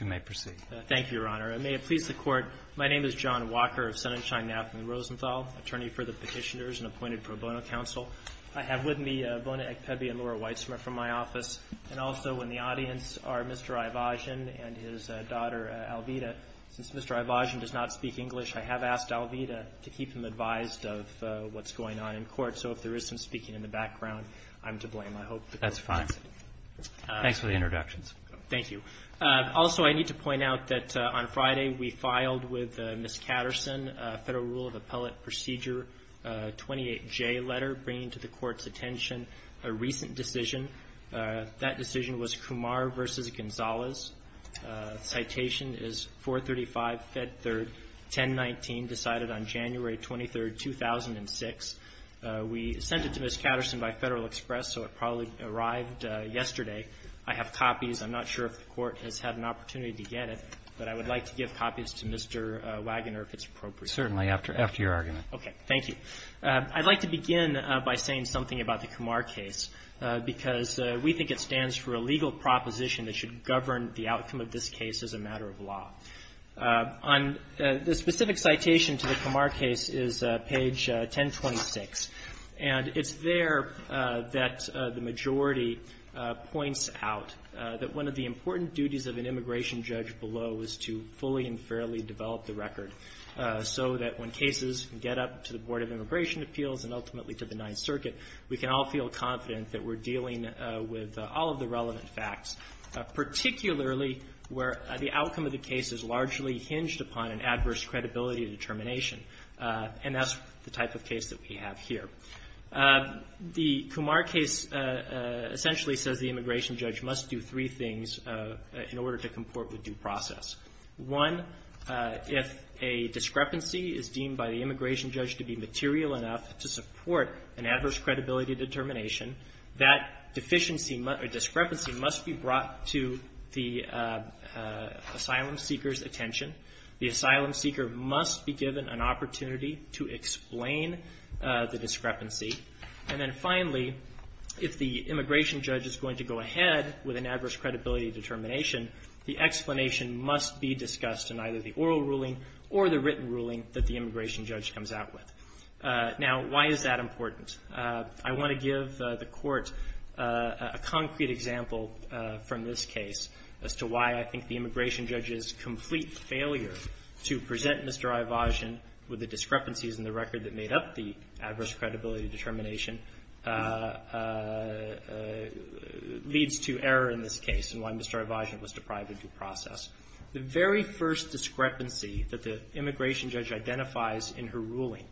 You may proceed. Thank you, Your Honor. And may it please the Court, my name is John Walker of Sonnenschein-Knapp and Rosenthal, attorney for the petitioners and appointed pro bono counsel. I have with me Bona Ekpebi and Laura Weitzmer from my office, and also in the audience are Mr. Ayvazyan and his daughter Alveda. Since Mr. Ayvazyan does not speak English, I have asked Alveda to keep him advised of what's going on in court, so if there is some speaking in the background, I'm to blame. I hope the Court will consent. That's fine. Thanks for the introductions. Thank you. Also, I need to point out that on Friday we filed with Ms. Katterson a Federal Rule of Appellate Procedure 28J letter bringing to the Court's attention a recent decision. That decision was Kumar v. Gonzalez. Citation is 435 Fed 3rd 1019, decided on January 23, 2006. We sent it to Ms. Katterson by Federal Express, so it probably arrived yesterday. I have copies. I'm not sure if the Court has had an opportunity to get it, but I would like to give copies to Mr. Wagoner if it's appropriate. Certainly, after your argument. Okay. Thank you. I'd like to begin by saying something about the Kumar case, because we think it stands for a legal proposition that should govern the outcome of this case as a matter of law. The specific citation to the Kumar case is page 1026, and it's there that the majority points out that one of the important duties of an immigration judge below is to fully and fairly develop the record so that when cases get up to the Board of Immigration Appeals and ultimately to the Ninth Circuit, we can all feel confident that we're dealing with all of the relevant facts, particularly where the outcome of the case is largely hinged upon an adverse credibility determination, and that's the type of case that we have here. The Kumar case essentially says the immigration judge must do three things in order to comport with due process. One, if a discrepancy is deemed by the immigration judge to be material enough to support an adverse credibility determination, that deficiency or discrepancy must be brought to the asylum seeker's attention. The asylum seeker must be given an opportunity to explain the discrepancy. And then finally, if the immigration judge is going to go ahead with an adverse credibility determination, the explanation must be discussed in either the oral ruling or the written ruling that the immigration judge comes out with. Now, why is that important? I want to give the Court a concrete example from this case as to why I think the failure to present Mr. Ivogin with the discrepancies in the record that made up the adverse credibility determination leads to error in this case and why Mr. Ivogin was deprived of due process. The very first discrepancy that the immigration judge identifies in her ruling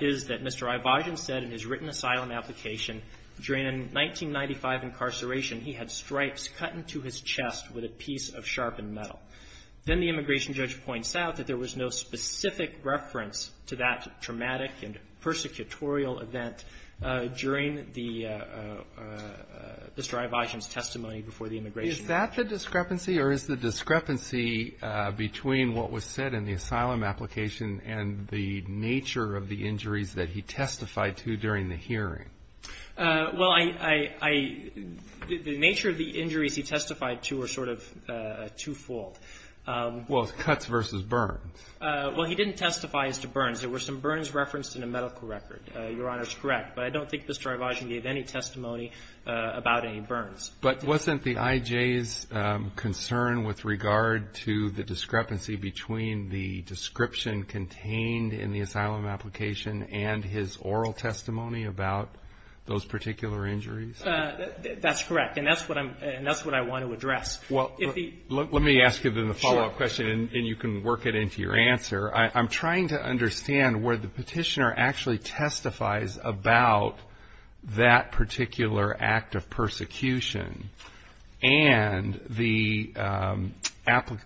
is that Mr. Ivogin said in his written asylum application during 1995 incarceration he had stripes cut into his chest with a piece of sharpened metal. Then the immigration judge points out that there was no specific reference to that traumatic and persecutorial event during the Mr. Ivogin's testimony before the immigration judge. Is that the discrepancy or is the discrepancy between what was said in the asylum application and the nature of the injuries that he testified to during the hearing? Well, the nature of the injuries he testified to are sort of twofold. Well, it's cuts versus burns. Well, he didn't testify as to burns. There were some burns referenced in the medical record. Your Honor is correct, but I don't think Mr. Ivogin gave any testimony about any burns. But wasn't the IJ's concern with regard to the discrepancy between the description contained in the asylum application and his oral testimony about those particular injuries? That's correct, and that's what I want to address. Well, let me ask you then the follow-up question, and you can work it into your answer. I'm trying to understand where the petitioner actually testifies about that particular act of persecution, and the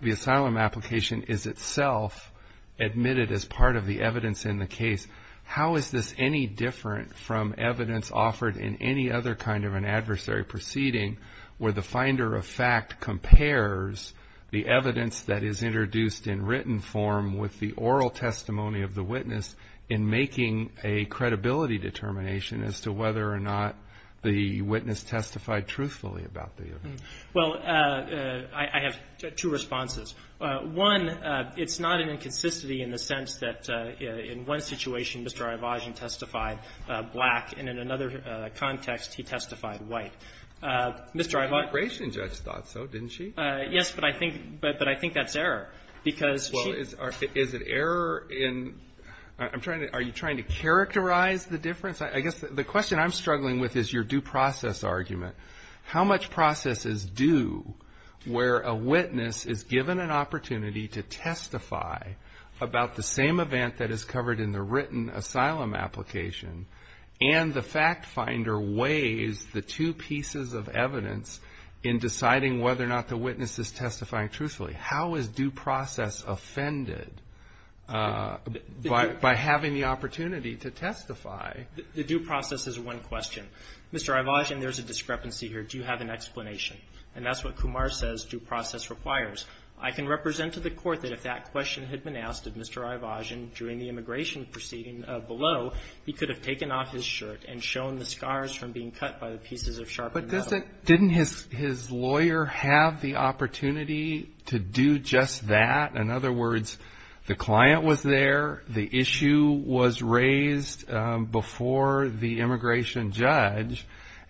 asylum application is itself admitted as part of the evidence in the case. How is this any different from evidence offered in any other kind of an adversary proceeding where the finder of fact compares the evidence that is introduced in written form with the oral testimony of the witness in making a credibility determination as to whether or not the witness testified truthfully about the event? Well, I have two responses. One, it's not an inconsistency in the sense that in one situation Mr. Ivogin testified black, and in another context he testified white. Mr. Ivogin ---- The immigration judge thought so, didn't she? Yes, but I think that's error, because she ---- Well, is it error in ---- I'm trying to ---- are you trying to characterize the difference? I guess the question I'm struggling with is your due process argument. How much process is due where a witness is given an opportunity to testify about the same event that is covered in the written asylum application, and the fact finder weighs the two pieces of evidence in deciding whether or not the witness is testifying truthfully? How is due process offended by having the opportunity to testify? The due process is one question. Mr. Ivogin, there's a discrepancy here. Do you have an explanation? And that's what Kumar says due process requires. I can represent to the court that if that question had been asked of Mr. Ivogin during the immigration proceeding below, he could have taken off his shirt and shown the scars from being cut by the pieces of sharpened metal. Didn't his lawyer have the opportunity to do just that? In other words, the client was there, the issue was raised before the immigration judge,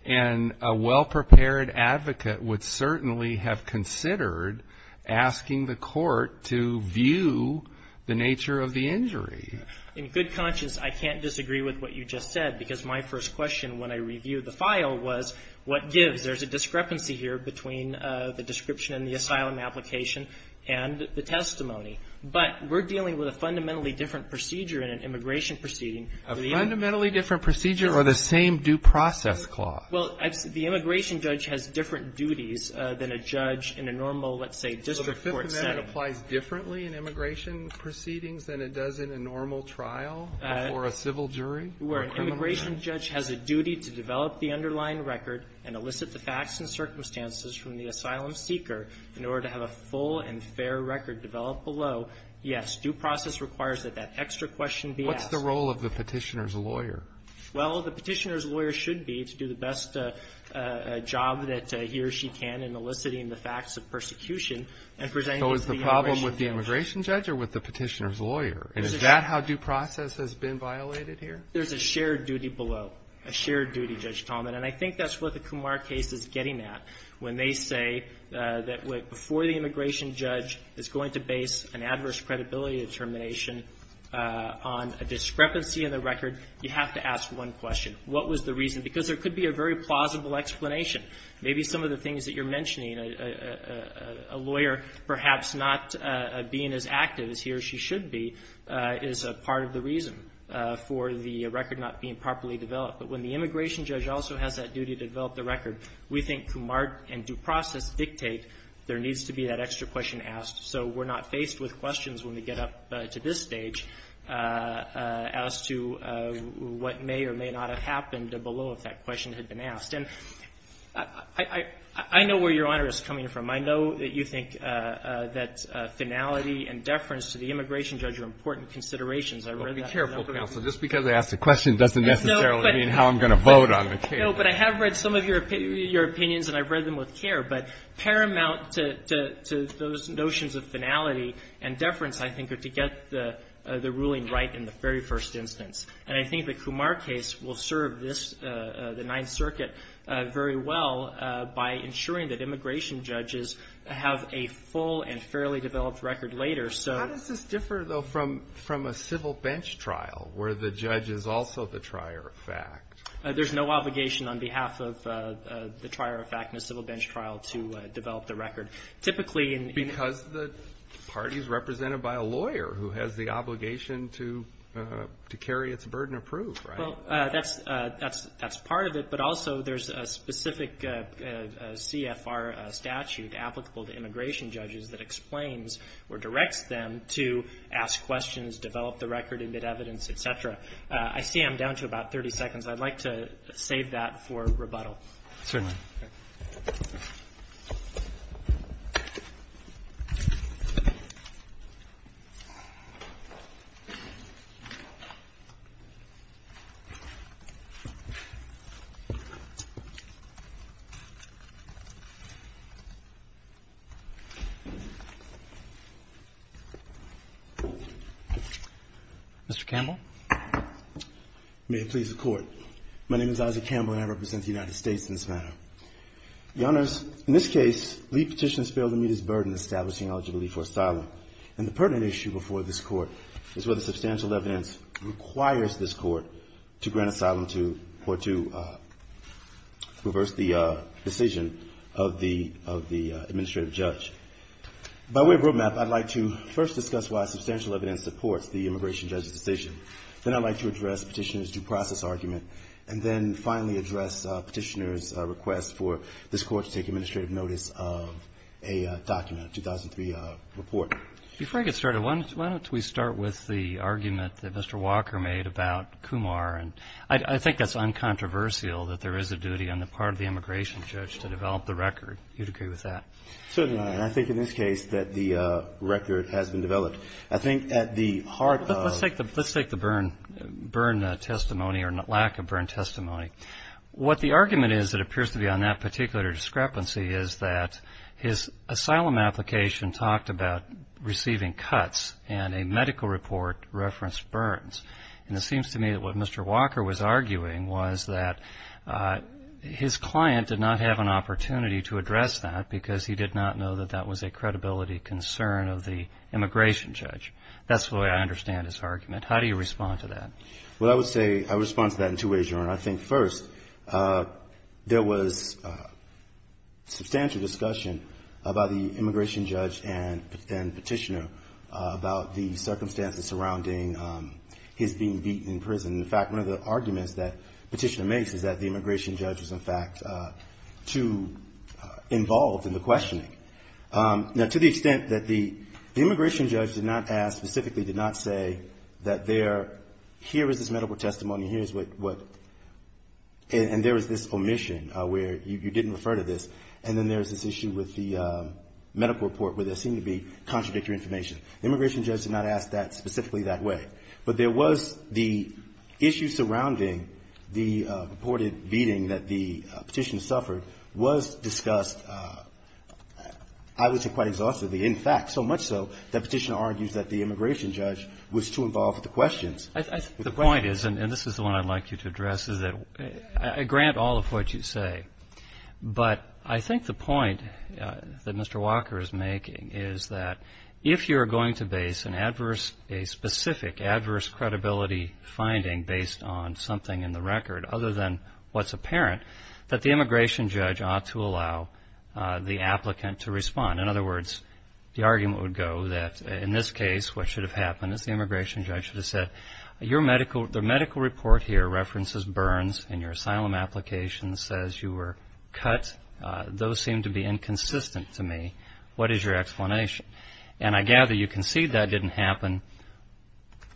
and a well-prepared advocate would certainly have considered asking the court to view the nature of the injury. In good conscience, I can't disagree with what you just said, because my first question when I reviewed the file was what gives. There's a discrepancy here between the description in the asylum application and the testimony. But we're dealing with a fundamentally different procedure in an immigration proceeding. A fundamentally different procedure or the same due process clause? Well, the immigration judge has different duties than a judge in a normal, let's say, district court setting. So Fifth Amendment applies differently in immigration proceedings than it does in a normal trial for a civil jury? Where an immigration judge has a duty to develop the underlying record and elicit the facts and circumstances from the asylum seeker in order to have a full and fair record developed below, yes, due process requires that that extra question be asked. What's the role of the Petitioner's lawyer? Well, the Petitioner's lawyer should be to do the best job that he or she can in eliciting the facts of persecution and presenting it to the immigration judge. So is the problem with the immigration judge or with the Petitioner's lawyer? Is that how due process has been violated here? There's a shared duty below, a shared duty, Judge Tallman, and I think that's what the Kumar case is getting at when they say that before the immigration judge is going to base an adverse credibility determination on a discrepancy in the record, you have to ask one question. What was the reason? Because there could be a very plausible explanation. Maybe some of the things that you're mentioning, a lawyer perhaps not being as active as he or she should be is a part of the reason for the record not being properly developed. But when the immigration judge also has that duty to develop the record, we think Kumar and due process dictate there needs to be that extra question asked. So we're not faced with questions when we get up to this stage as to what may or may not have happened below if that question had been asked. And I know where Your Honor is coming from. I know that you think that finality and deference to the immigration judge are important considerations. I've read that. Be careful, counsel. Just because I asked a question doesn't necessarily mean how I'm going to vote on the case. No, but I have read some of your opinions and I've read them with care. But paramount to those notions of finality and deference, I think, are to get the ruling right in the very first instance. And I think the Kumar case will serve this, the Ninth Circuit, very well by ensuring that immigration judges have a full and fairly developed record later. How does this differ, though, from a civil bench trial where the judge is also the trier of fact? There's no obligation on behalf of the trier of fact in a civil bench trial to develop the record. Because the party is represented by a lawyer who has the obligation to carry its burden of proof, right? Well, that's part of it. But also there's a specific CFR statute applicable to immigration judges that explains or directs them to ask questions, develop the record, emit evidence, et cetera. I see I'm down to about 30 seconds. I'd like to save that for rebuttal. Mr. Campbell? May it please the Court. My name is Isaac Campbell, and I represent the United States in this matter. Your Honors, in this case, lead petitioners failed to meet his burden establishing eligibility for asylum. And the pertinent issue before this Court is whether substantial evidence requires this Court to grant asylum to or to reverse the decision of the administrative judge. By way of roadmap, I'd like to first discuss why substantial evidence supports the immigration judge's decision. Then I'd like to address Petitioner's due process argument, and then finally address Petitioner's request for this Court to take administrative notice of a document, 2003 report. Before I get started, why don't we start with the argument that Mr. Walker made about Kumar. And I think that's uncontroversial that there is a duty on the part of the immigration judge to develop the record. Do you agree with that? Certainly not. And I think in this case that the record has been developed. I think at the heart of the ---- Let's take the burn testimony or lack of burn testimony. What the argument is that appears to be on that particular discrepancy is that his asylum application talked about receiving cuts and a medical report referenced burns. And it seems to me that what Mr. Walker was arguing was that his client did not have an opportunity to address that because he did not know that that was a credibility concern of the immigration judge. That's the way I understand his argument. How do you respond to that? Well, I would say I respond to that in two ways, Your Honor. I think, first, there was substantial discussion about the immigration judge and Petitioner about the circumstances surrounding his being beaten in prison. In fact, one of the arguments that Petitioner makes is that the immigration judge was, in fact, too involved in the questioning. Now, to the extent that the immigration judge did not ask, specifically did not say that there ---- here is this medical testimony and here is what ---- and there is this omission where you didn't refer to this, and then there is this issue with the medical report where there seemed to be contradictory information. The immigration judge did not ask that specifically that way. But there was the issue surrounding the reported beating that the Petitioner suffered was discussed, I would say, quite exhaustively. In fact, so much so that Petitioner argues that the immigration judge was too involved with the questions. The point is, and this is the one I'd like you to address, is that I grant all of what you say. But I think the point that Mr. Walker is making is that if you're going to base an adverse ---- a specific adverse credibility finding based on something in the record other than what's apparent, that the immigration judge ought to allow the applicant to respond. In other words, the argument would go that in this case, what should have happened is the immigration judge should have said, your medical ---- the medical report here references burns and your asylum application says you were cut. Those seem to be inconsistent to me. What is your explanation? And I gather you concede that didn't happen,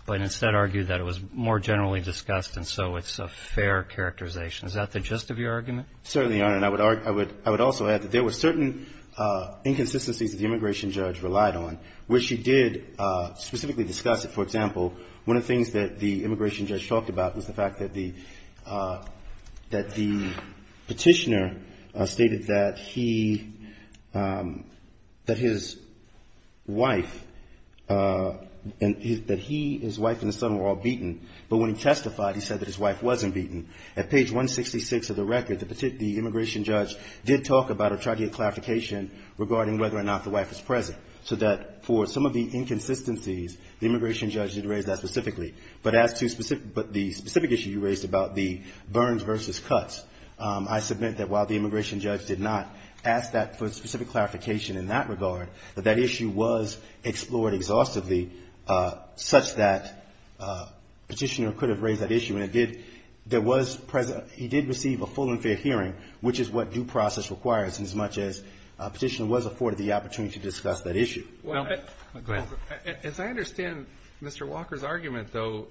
but instead argue that it was more generally discussed and so it's a fair characterization. Is that the gist of your argument? Certainly, Your Honor. And I would also add that there were certain inconsistencies that the immigration judge relied on, which she did specifically discuss. For example, one of the things that the immigration judge talked about was the fact that the Petitioner stated that he, that his wife, that he, his wife and his son were all beaten. But when he testified, he said that his wife wasn't beaten. At page 166 of the record, the immigration judge did talk about or try to get clarification regarding whether or not the wife was present. So that for some of the inconsistencies, the immigration judge did raise that specifically. But as to the specific issue you raised about the burns versus cuts, I submit that while the immigration judge did not ask that for specific clarification in that regard, that that issue was explored exhaustively such that Petitioner could have raised that issue. And it did, there was, he did receive a full and fair hearing, which is what due process requires, as much as Petitioner was afforded the opportunity to discuss that issue. Well, go ahead. As I understand Mr. Walker's argument, though,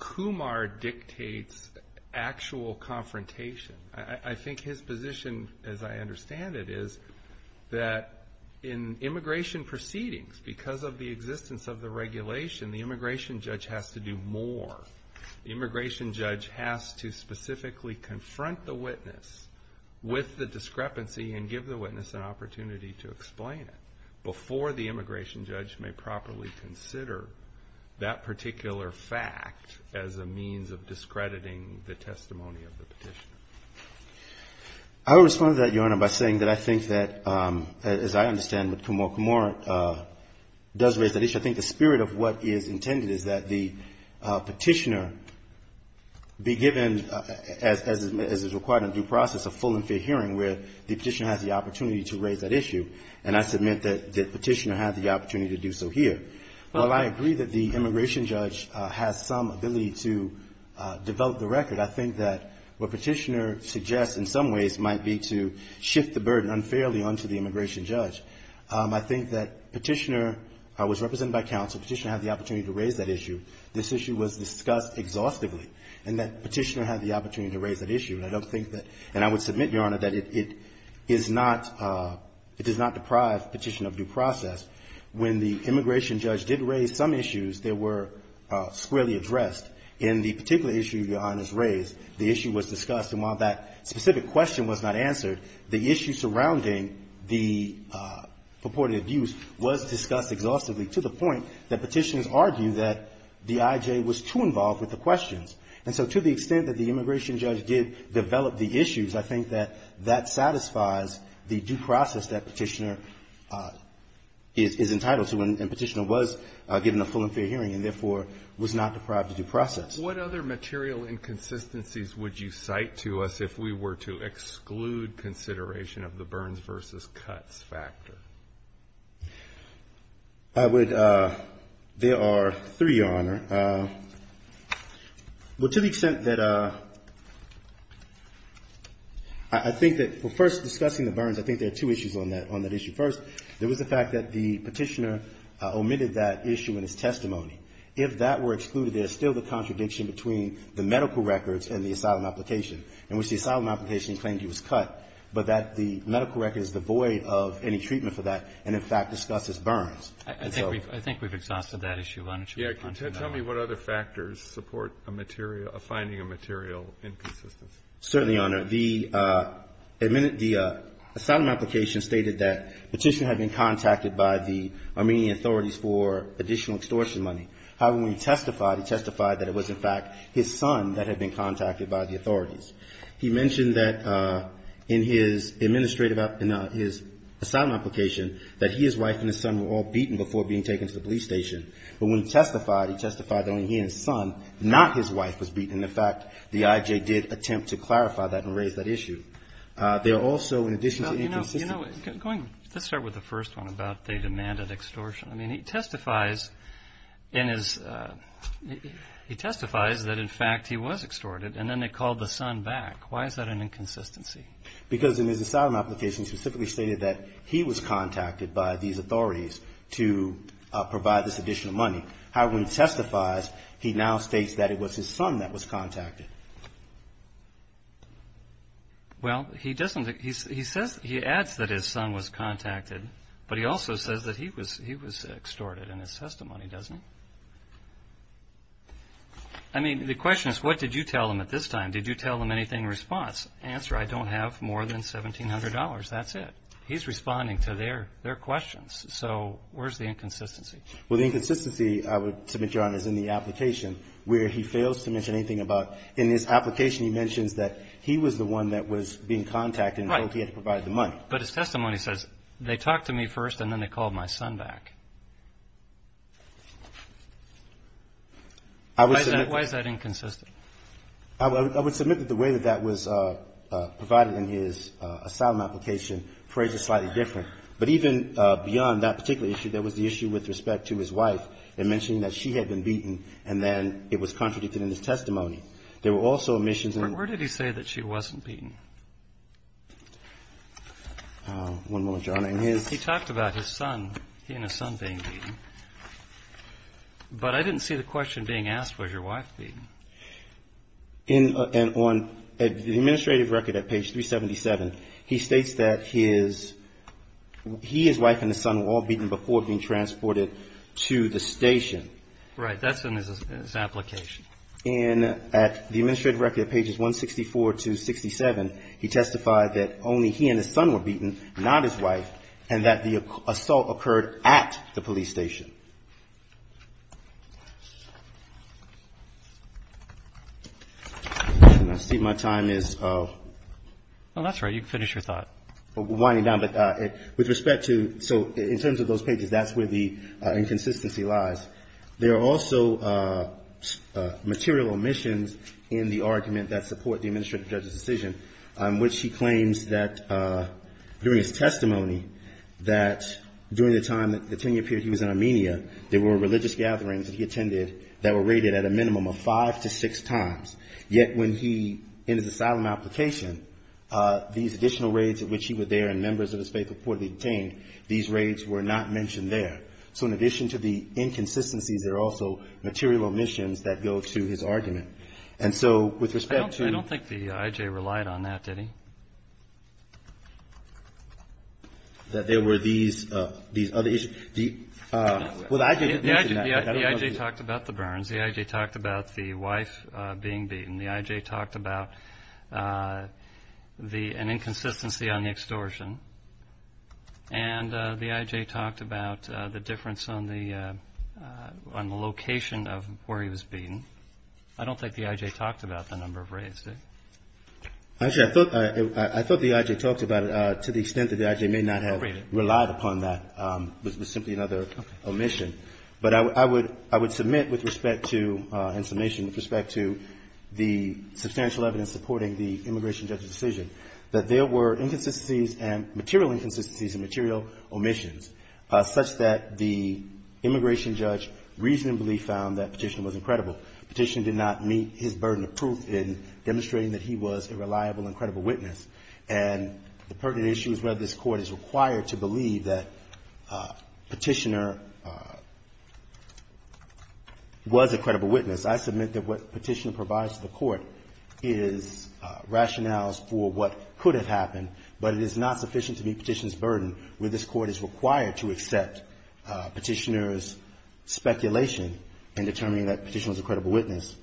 Kumar dictates actual confrontation. I think his position, as I understand it, is that in immigration proceedings, because of the existence of the regulation, the immigration judge has to do more. The immigration judge has to specifically confront the witness with the discrepancy and give the witness an opportunity to explain it before the immigration judge may properly consider that particular fact as a means of discrediting the testimony of the Petitioner. I would respond to that, Your Honor, by saying that I think that, as I understand what Kumar does raise that issue, I think the spirit of what is intended is that the Petitioner be given, as is required in due process, a full and fair hearing where the Petitioner has the opportunity to raise that issue. And I submit that Petitioner had the opportunity to do so here. While I agree that the immigration judge has some ability to develop the record, I think that what Petitioner suggests in some ways might be to shift the burden unfairly onto the immigration judge. I think that Petitioner was represented by counsel. Petitioner had the opportunity to raise that issue. This issue was discussed exhaustively, and that Petitioner had the opportunity to raise that issue. And I don't think that — and I would submit, Your Honor, that it is not — it does not deprive Petitioner of due process. When the immigration judge did raise some issues, they were squarely addressed. In the particular issue Your Honor has raised, the issue was discussed. And while that specific question was not answered, the issue surrounding the purported abuse was discussed exhaustively to the point that Petitioners argue that the IJ was too involved with the questions. And so to the extent that the immigration judge did develop the issues, I think that that satisfies the due process that Petitioner is entitled to, and Petitioner was given a full and fair hearing and, therefore, was not deprived of due process. What other material inconsistencies would you cite to us if we were to exclude consideration of the Burns versus Cutts factor? I would — there are three, Your Honor. Well, to the extent that I think that — well, first, discussing the Burns, I think there are two issues on that issue. First, there was the fact that the Petitioner omitted that issue in his testimony. If that were excluded, there is still the contradiction between the medical records and the asylum application in which the asylum application claimed he was cut, but that the medical record is devoid of any treatment for that and, in fact, discusses Burns. I think we've — I think we've exhausted that issue. Why don't you respond to that? Yes. Tell me what other factors support a material — a finding of material inconsistency. Certainly, Your Honor. The — the asylum application stated that Petitioner had been contacted by the Armenian authorities for additional extortion money. However, when he testified, he testified that it was, in fact, his son that had been contacted by the authorities. He mentioned that in his administrative — in his asylum application that he, his wife and his son were all beaten before being taken to the police station. But when he testified, he testified that only he and his son, not his wife, was beaten. And, in fact, the I.J. did attempt to clarify that and raise that issue. There are also, in addition to inconsistent — he testifies in his — he testifies that, in fact, he was extorted, and then they called the son back. Why is that an inconsistency? Because in his asylum application, he specifically stated that he was contacted by these authorities to provide this additional money. However, when he testifies, he now states that it was his son that was contacted. Well, he doesn't — he says — he adds that his son was contacted, but he also says that he was extorted in his testimony, doesn't he? I mean, the question is, what did you tell him at this time? Did you tell him anything in response? Answer, I don't have more than $1,700. That's it. He's responding to their questions. So where's the inconsistency? Well, the inconsistency, I would submit, Your Honors, in the application, where he fails to mention anything about — in his application, he mentions that he was the one that was being contacted and told he had to provide the money. Right. But his testimony says, they talked to me first, and then they called my son back. I would — Why is that inconsistent? I would submit that the way that that was provided in his asylum application, the phrase is slightly different. But even beyond that particular issue, there was the issue with respect to his wife, and mentioning that she had been beaten, and then it was contradicted in his testimony. There were also omissions in — But where did he say that she wasn't beaten? One moment, Your Honor. He talked about his son, he and his son being beaten. But I didn't see the question being asked, was your wife beaten? In — and on the administrative record at page 377, he states that his — he, his wife, and his son were all beaten before being transported to the station. Right. That's in his application. And at the administrative record at pages 164 to 67, he testified that only he and his son were beaten, not his wife, and that the assault occurred at the police station. I see my time is — Oh, that's right. You can finish your thought. But with respect to — so in terms of those pages, that's where the inconsistency lies. There are also material omissions in the argument that support the administrative judge's decision, which he claims that during his testimony, that during the time, the 10-year period he was in Armenia, there were religious gatherings that he attended that were raided at a minimum of five to six times. Yet when he, in his asylum application, these additional raids at which he was there and members of his faith reportedly detained, these raids were not mentioned there. So in addition to the inconsistencies, there are also material omissions that go to his argument. And so with respect to — I don't think the I.J. relied on that, did he? That there were these other issues? Well, the I.J. did not. The I.J. talked about the burns. The I.J. talked about the wife being beaten. The I.J. talked about an inconsistency on the extortion. And the I.J. talked about the difference on the location of where he was beaten. I don't think the I.J. talked about the number of raids, did he? Actually, I thought the I.J. talked about it to the extent that the I.J. may not have relied upon that. It was simply another omission. But I would submit with respect to, in summation with respect to the substantial evidence supporting the immigration judge's decision, that there were inconsistencies and material inconsistencies and material omissions, such that the immigration judge reasonably found that Petitioner was incredible. Petitioner did not meet his burden of proof in demonstrating that he was a reliable and credible witness. And the pertinent issue is whether this Court is required to believe that Petitioner was a credible witness. I submit that what Petitioner provides to the Court is rationales for what could have happened, but it is not sufficient to meet Petitioner's burden where this Court is required to accept Petitioner's speculation in determining that Petitioner was a credible witness.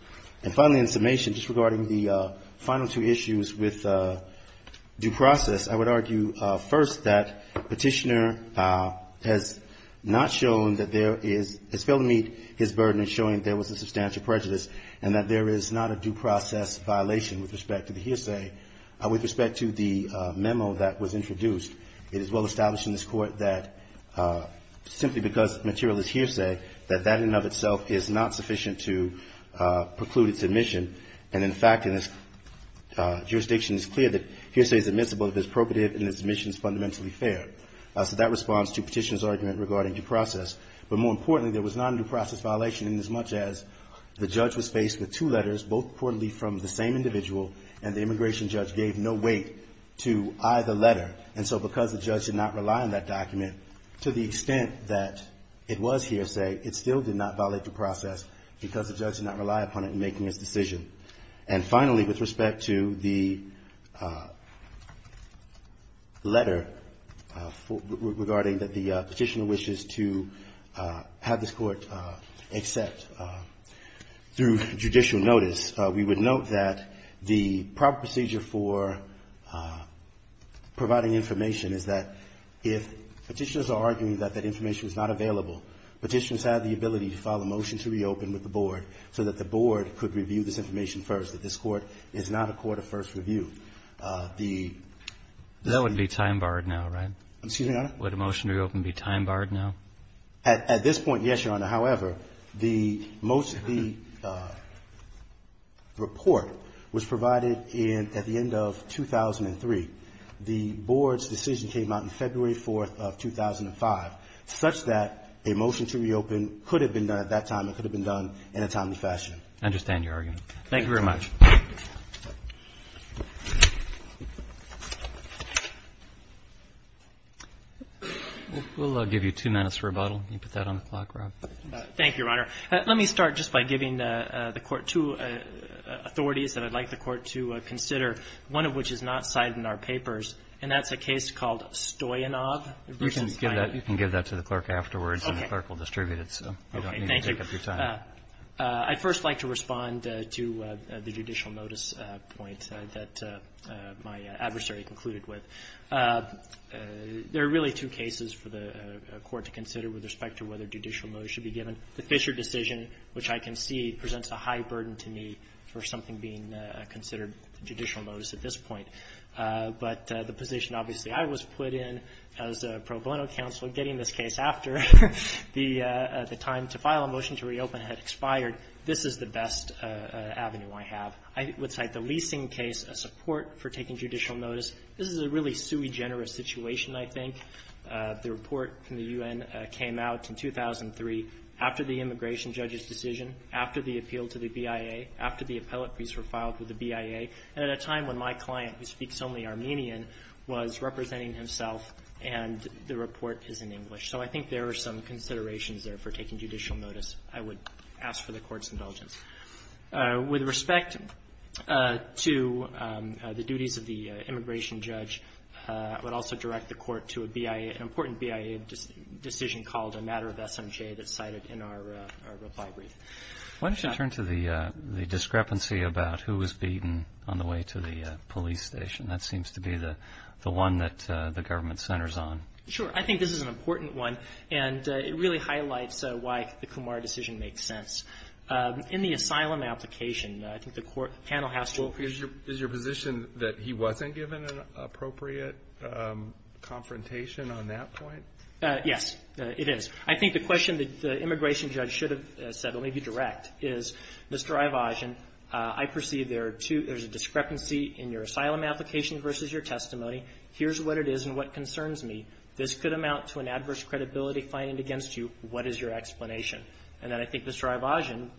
And finally, in summation, just regarding the final two issues with due process, I would argue first that Petitioner has not shown that there is, has failed to meet his burden in showing there was a substantial prejudice and that there is not a due process violation with respect to the hearsay, with respect to the memo that was introduced. It is well established in this Court that simply because material is hearsay, that that in and of itself is not sufficient to preclude its admission. And in fact, in this jurisdiction, it's clear that hearsay is admissible if it's appropriate and its admission is fundamentally fair. So that responds to Petitioner's argument regarding due process. But more importantly, there was not a due process violation inasmuch as the judge was faced with two letters, both reportedly from the same individual, and the immigration judge gave no weight to either letter. And so because the judge did not rely on that document to the extent that it was hearsay, it still did not violate the process because the judge did not rely upon it in making his decision. And finally, with respect to the letter regarding that the Petitioner wishes to have this Court accept through judicial notice, we would note that the proper procedure for providing information is that if Petitioners are arguing that that information is not available, Petitioners have the ability to file a motion to reopen with the Board so that the Board could review this information first, that this Court is not a court of first review. The ---- That would be time-barred now, right? Excuse me, Your Honor? Would a motion to reopen be time-barred now? At this point, yes, Your Honor. However, the most of the report was provided at the end of 2003. The Board's decision came out on February 4th of 2005, such that a motion to reopen could have been done at that time. It could have been done in a timely fashion. I understand your argument. Thank you very much. We'll give you two minutes for rebuttal. You can put that on the clock, Rob. Thank you, Your Honor. Let me start just by giving the Court two authorities that I'd like the Court to consider, one of which is not cited in our papers, and that's a case called Stoyanov. You can give that to the Clerk afterwards, and the Clerk will distribute it. Okay. Thank you. Take up your time. I'd first like to respond to the judicial notice point that my adversary concluded with. There are really two cases for the Court to consider with respect to whether judicial notice should be given. The Fisher decision, which I concede presents a high burden to me for something being considered judicial notice at this point. But the position obviously I was put in as a pro bono counsel getting this case after the time to file a motion to reopen had expired, this is the best avenue I have. I would cite the leasing case as support for taking judicial notice. This is a really sui generis situation, I think. The report from the U.N. came out in 2003 after the immigration judge's decision, after the appeal to the BIA, after the appellate briefs were filed with the BIA, and at a time when my client, who speaks only Armenian, was representing himself, and the report is in English. So I think there are some considerations there for taking judicial notice. I would ask for the Court's indulgence. With respect to the duties of the immigration judge, I would also direct the Court to an important BIA decision called a matter of SMJ that's cited in our reply brief. Why don't you turn to the discrepancy about who was beaten on the way to the police station? That seems to be the one that the government centers on. Sure. I think this is an important one, and it really highlights why the Kumar decision makes sense. In the asylum application, I think the panel has to appreciate it. Is your position that he wasn't given an appropriate confrontation on that point? Yes, it is. I think the question that the immigration judge should have said, let me be direct, is, Mr. Ivashin, I perceive there are two, there's a discrepancy in your asylum application versus your testimony. Here's what it is and what concerns me. This could amount to an adverse credibility finding against you. What is your explanation? And then I think Mr. Ivashin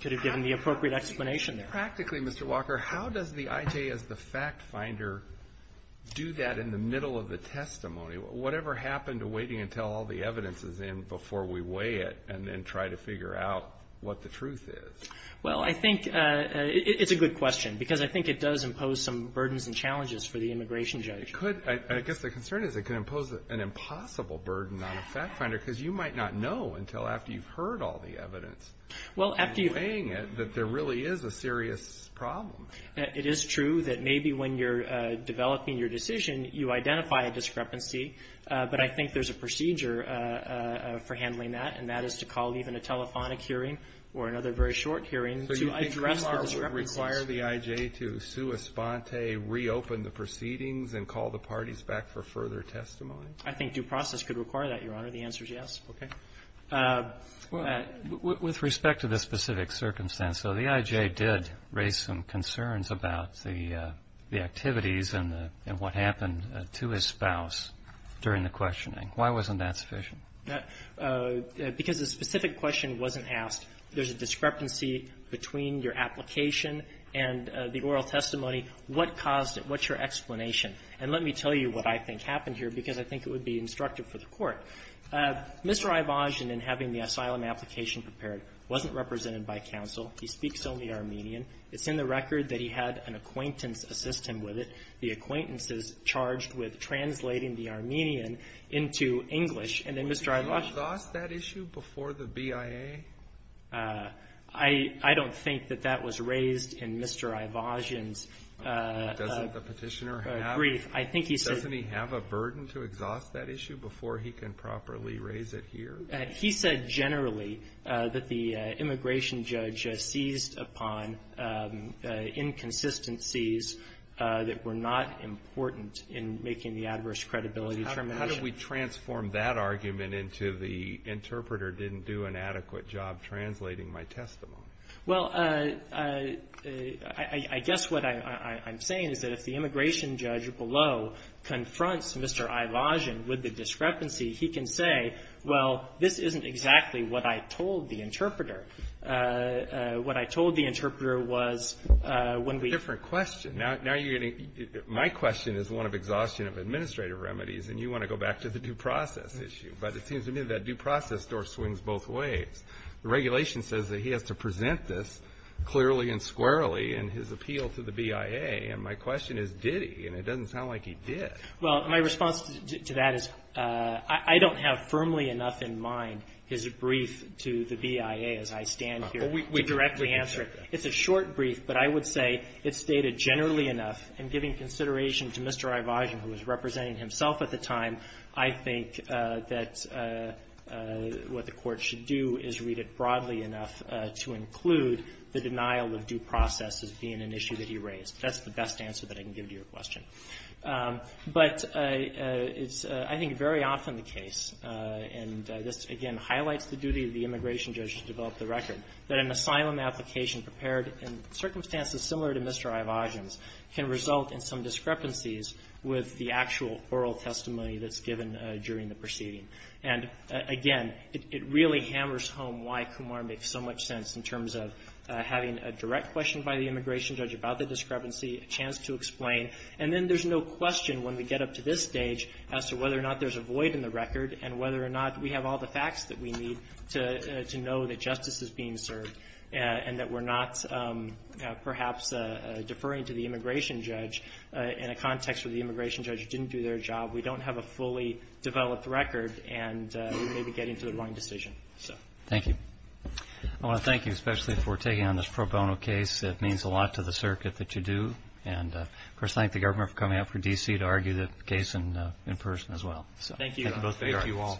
could have given the appropriate explanation there. Practically, Mr. Walker, how does the IJ as the fact-finder do that in the middle of the testimony? Whatever happened to waiting until all the evidence is in before we weigh it and then try to figure out what the truth is? Well, I think it's a good question, because I think it does impose some burdens and challenges for the immigration judge. I guess the concern is it could impose an impossible burden on a fact-finder, because you might not know until after you've heard all the evidence and weighing it that there really is a serious problem. It is true that maybe when you're developing your decision, you identify a discrepancy, but I think there's a procedure for handling that, and that is to call even a telephonic hearing or another very short hearing to address the discrepancy. Does that require the IJ to sua sponte reopen the proceedings and call the parties back for further testimony? I think due process could require that, Your Honor. The answer is yes. Okay. With respect to the specific circumstance, though, the IJ did raise some concerns about the activities and what happened to his spouse during the questioning. Why wasn't that sufficient? Because the specific question wasn't asked. There's a discrepancy between your application and the oral testimony. What caused it? What's your explanation? And let me tell you what I think happened here, because I think it would be instructive for the Court. Mr. Ivashin, in having the asylum application prepared, wasn't represented by counsel. He speaks only Armenian. It's in the record that he had an acquaintance assist him with it. The acquaintance is charged with translating the Armenian into English, and then Mr. Ivashin ---- I don't think that that was raised in Mr. Ivashin's brief. Doesn't the Petitioner have a burden to exhaust that issue before he can properly raise it here? He said generally that the immigration judge seized upon inconsistencies that were not important in making the adverse credibility determination. How did we transform that argument into the interpreter didn't do an adequate job translating my testimony? Well, I guess what I'm saying is that if the immigration judge below confronts Mr. Ivashin with the discrepancy, he can say, well, this isn't exactly what I told the interpreter. What I told the interpreter was when we ---- Different question. My question is one of exhaustion of administrative remedies, and you want to go back to the due process issue. But it seems to me that due process door swings both ways. The regulation says that he has to present this clearly and squarely in his appeal to the BIA. And my question is, did he? And it doesn't sound like he did. Well, my response to that is I don't have firmly enough in mind his brief to the BIA as I stand here to directly answer it. It's a short brief, but I would say it's dated generally enough. And giving consideration to Mr. Ivashin, who was representing himself at the time, I think that what the court should do is read it broadly enough to include the denial of due process as being an issue that he raised. That's the best answer that I can give to your question. But it's, I think, very often the case, and this, again, highlights the duty of the circumstances similar to Mr. Ivashin's can result in some discrepancies with the actual oral testimony that's given during the proceeding. And, again, it really hammers home why Kumar makes so much sense in terms of having a direct question by the immigration judge about the discrepancy, a chance to explain. And then there's no question when we get up to this stage as to whether or not there's a void in the record and whether or not we have all the facts that we need to know that justice is being served and that we're not perhaps deferring to the immigration judge in a context where the immigration judge didn't do their job. We don't have a fully developed record, and we may be getting to the wrong decision. Thank you. I want to thank you especially for taking on this pro bono case. It means a lot to the circuit that you do. And, of course, thank the government for coming out for D.C. to argue the case in person as well. Thank you. Thank you all.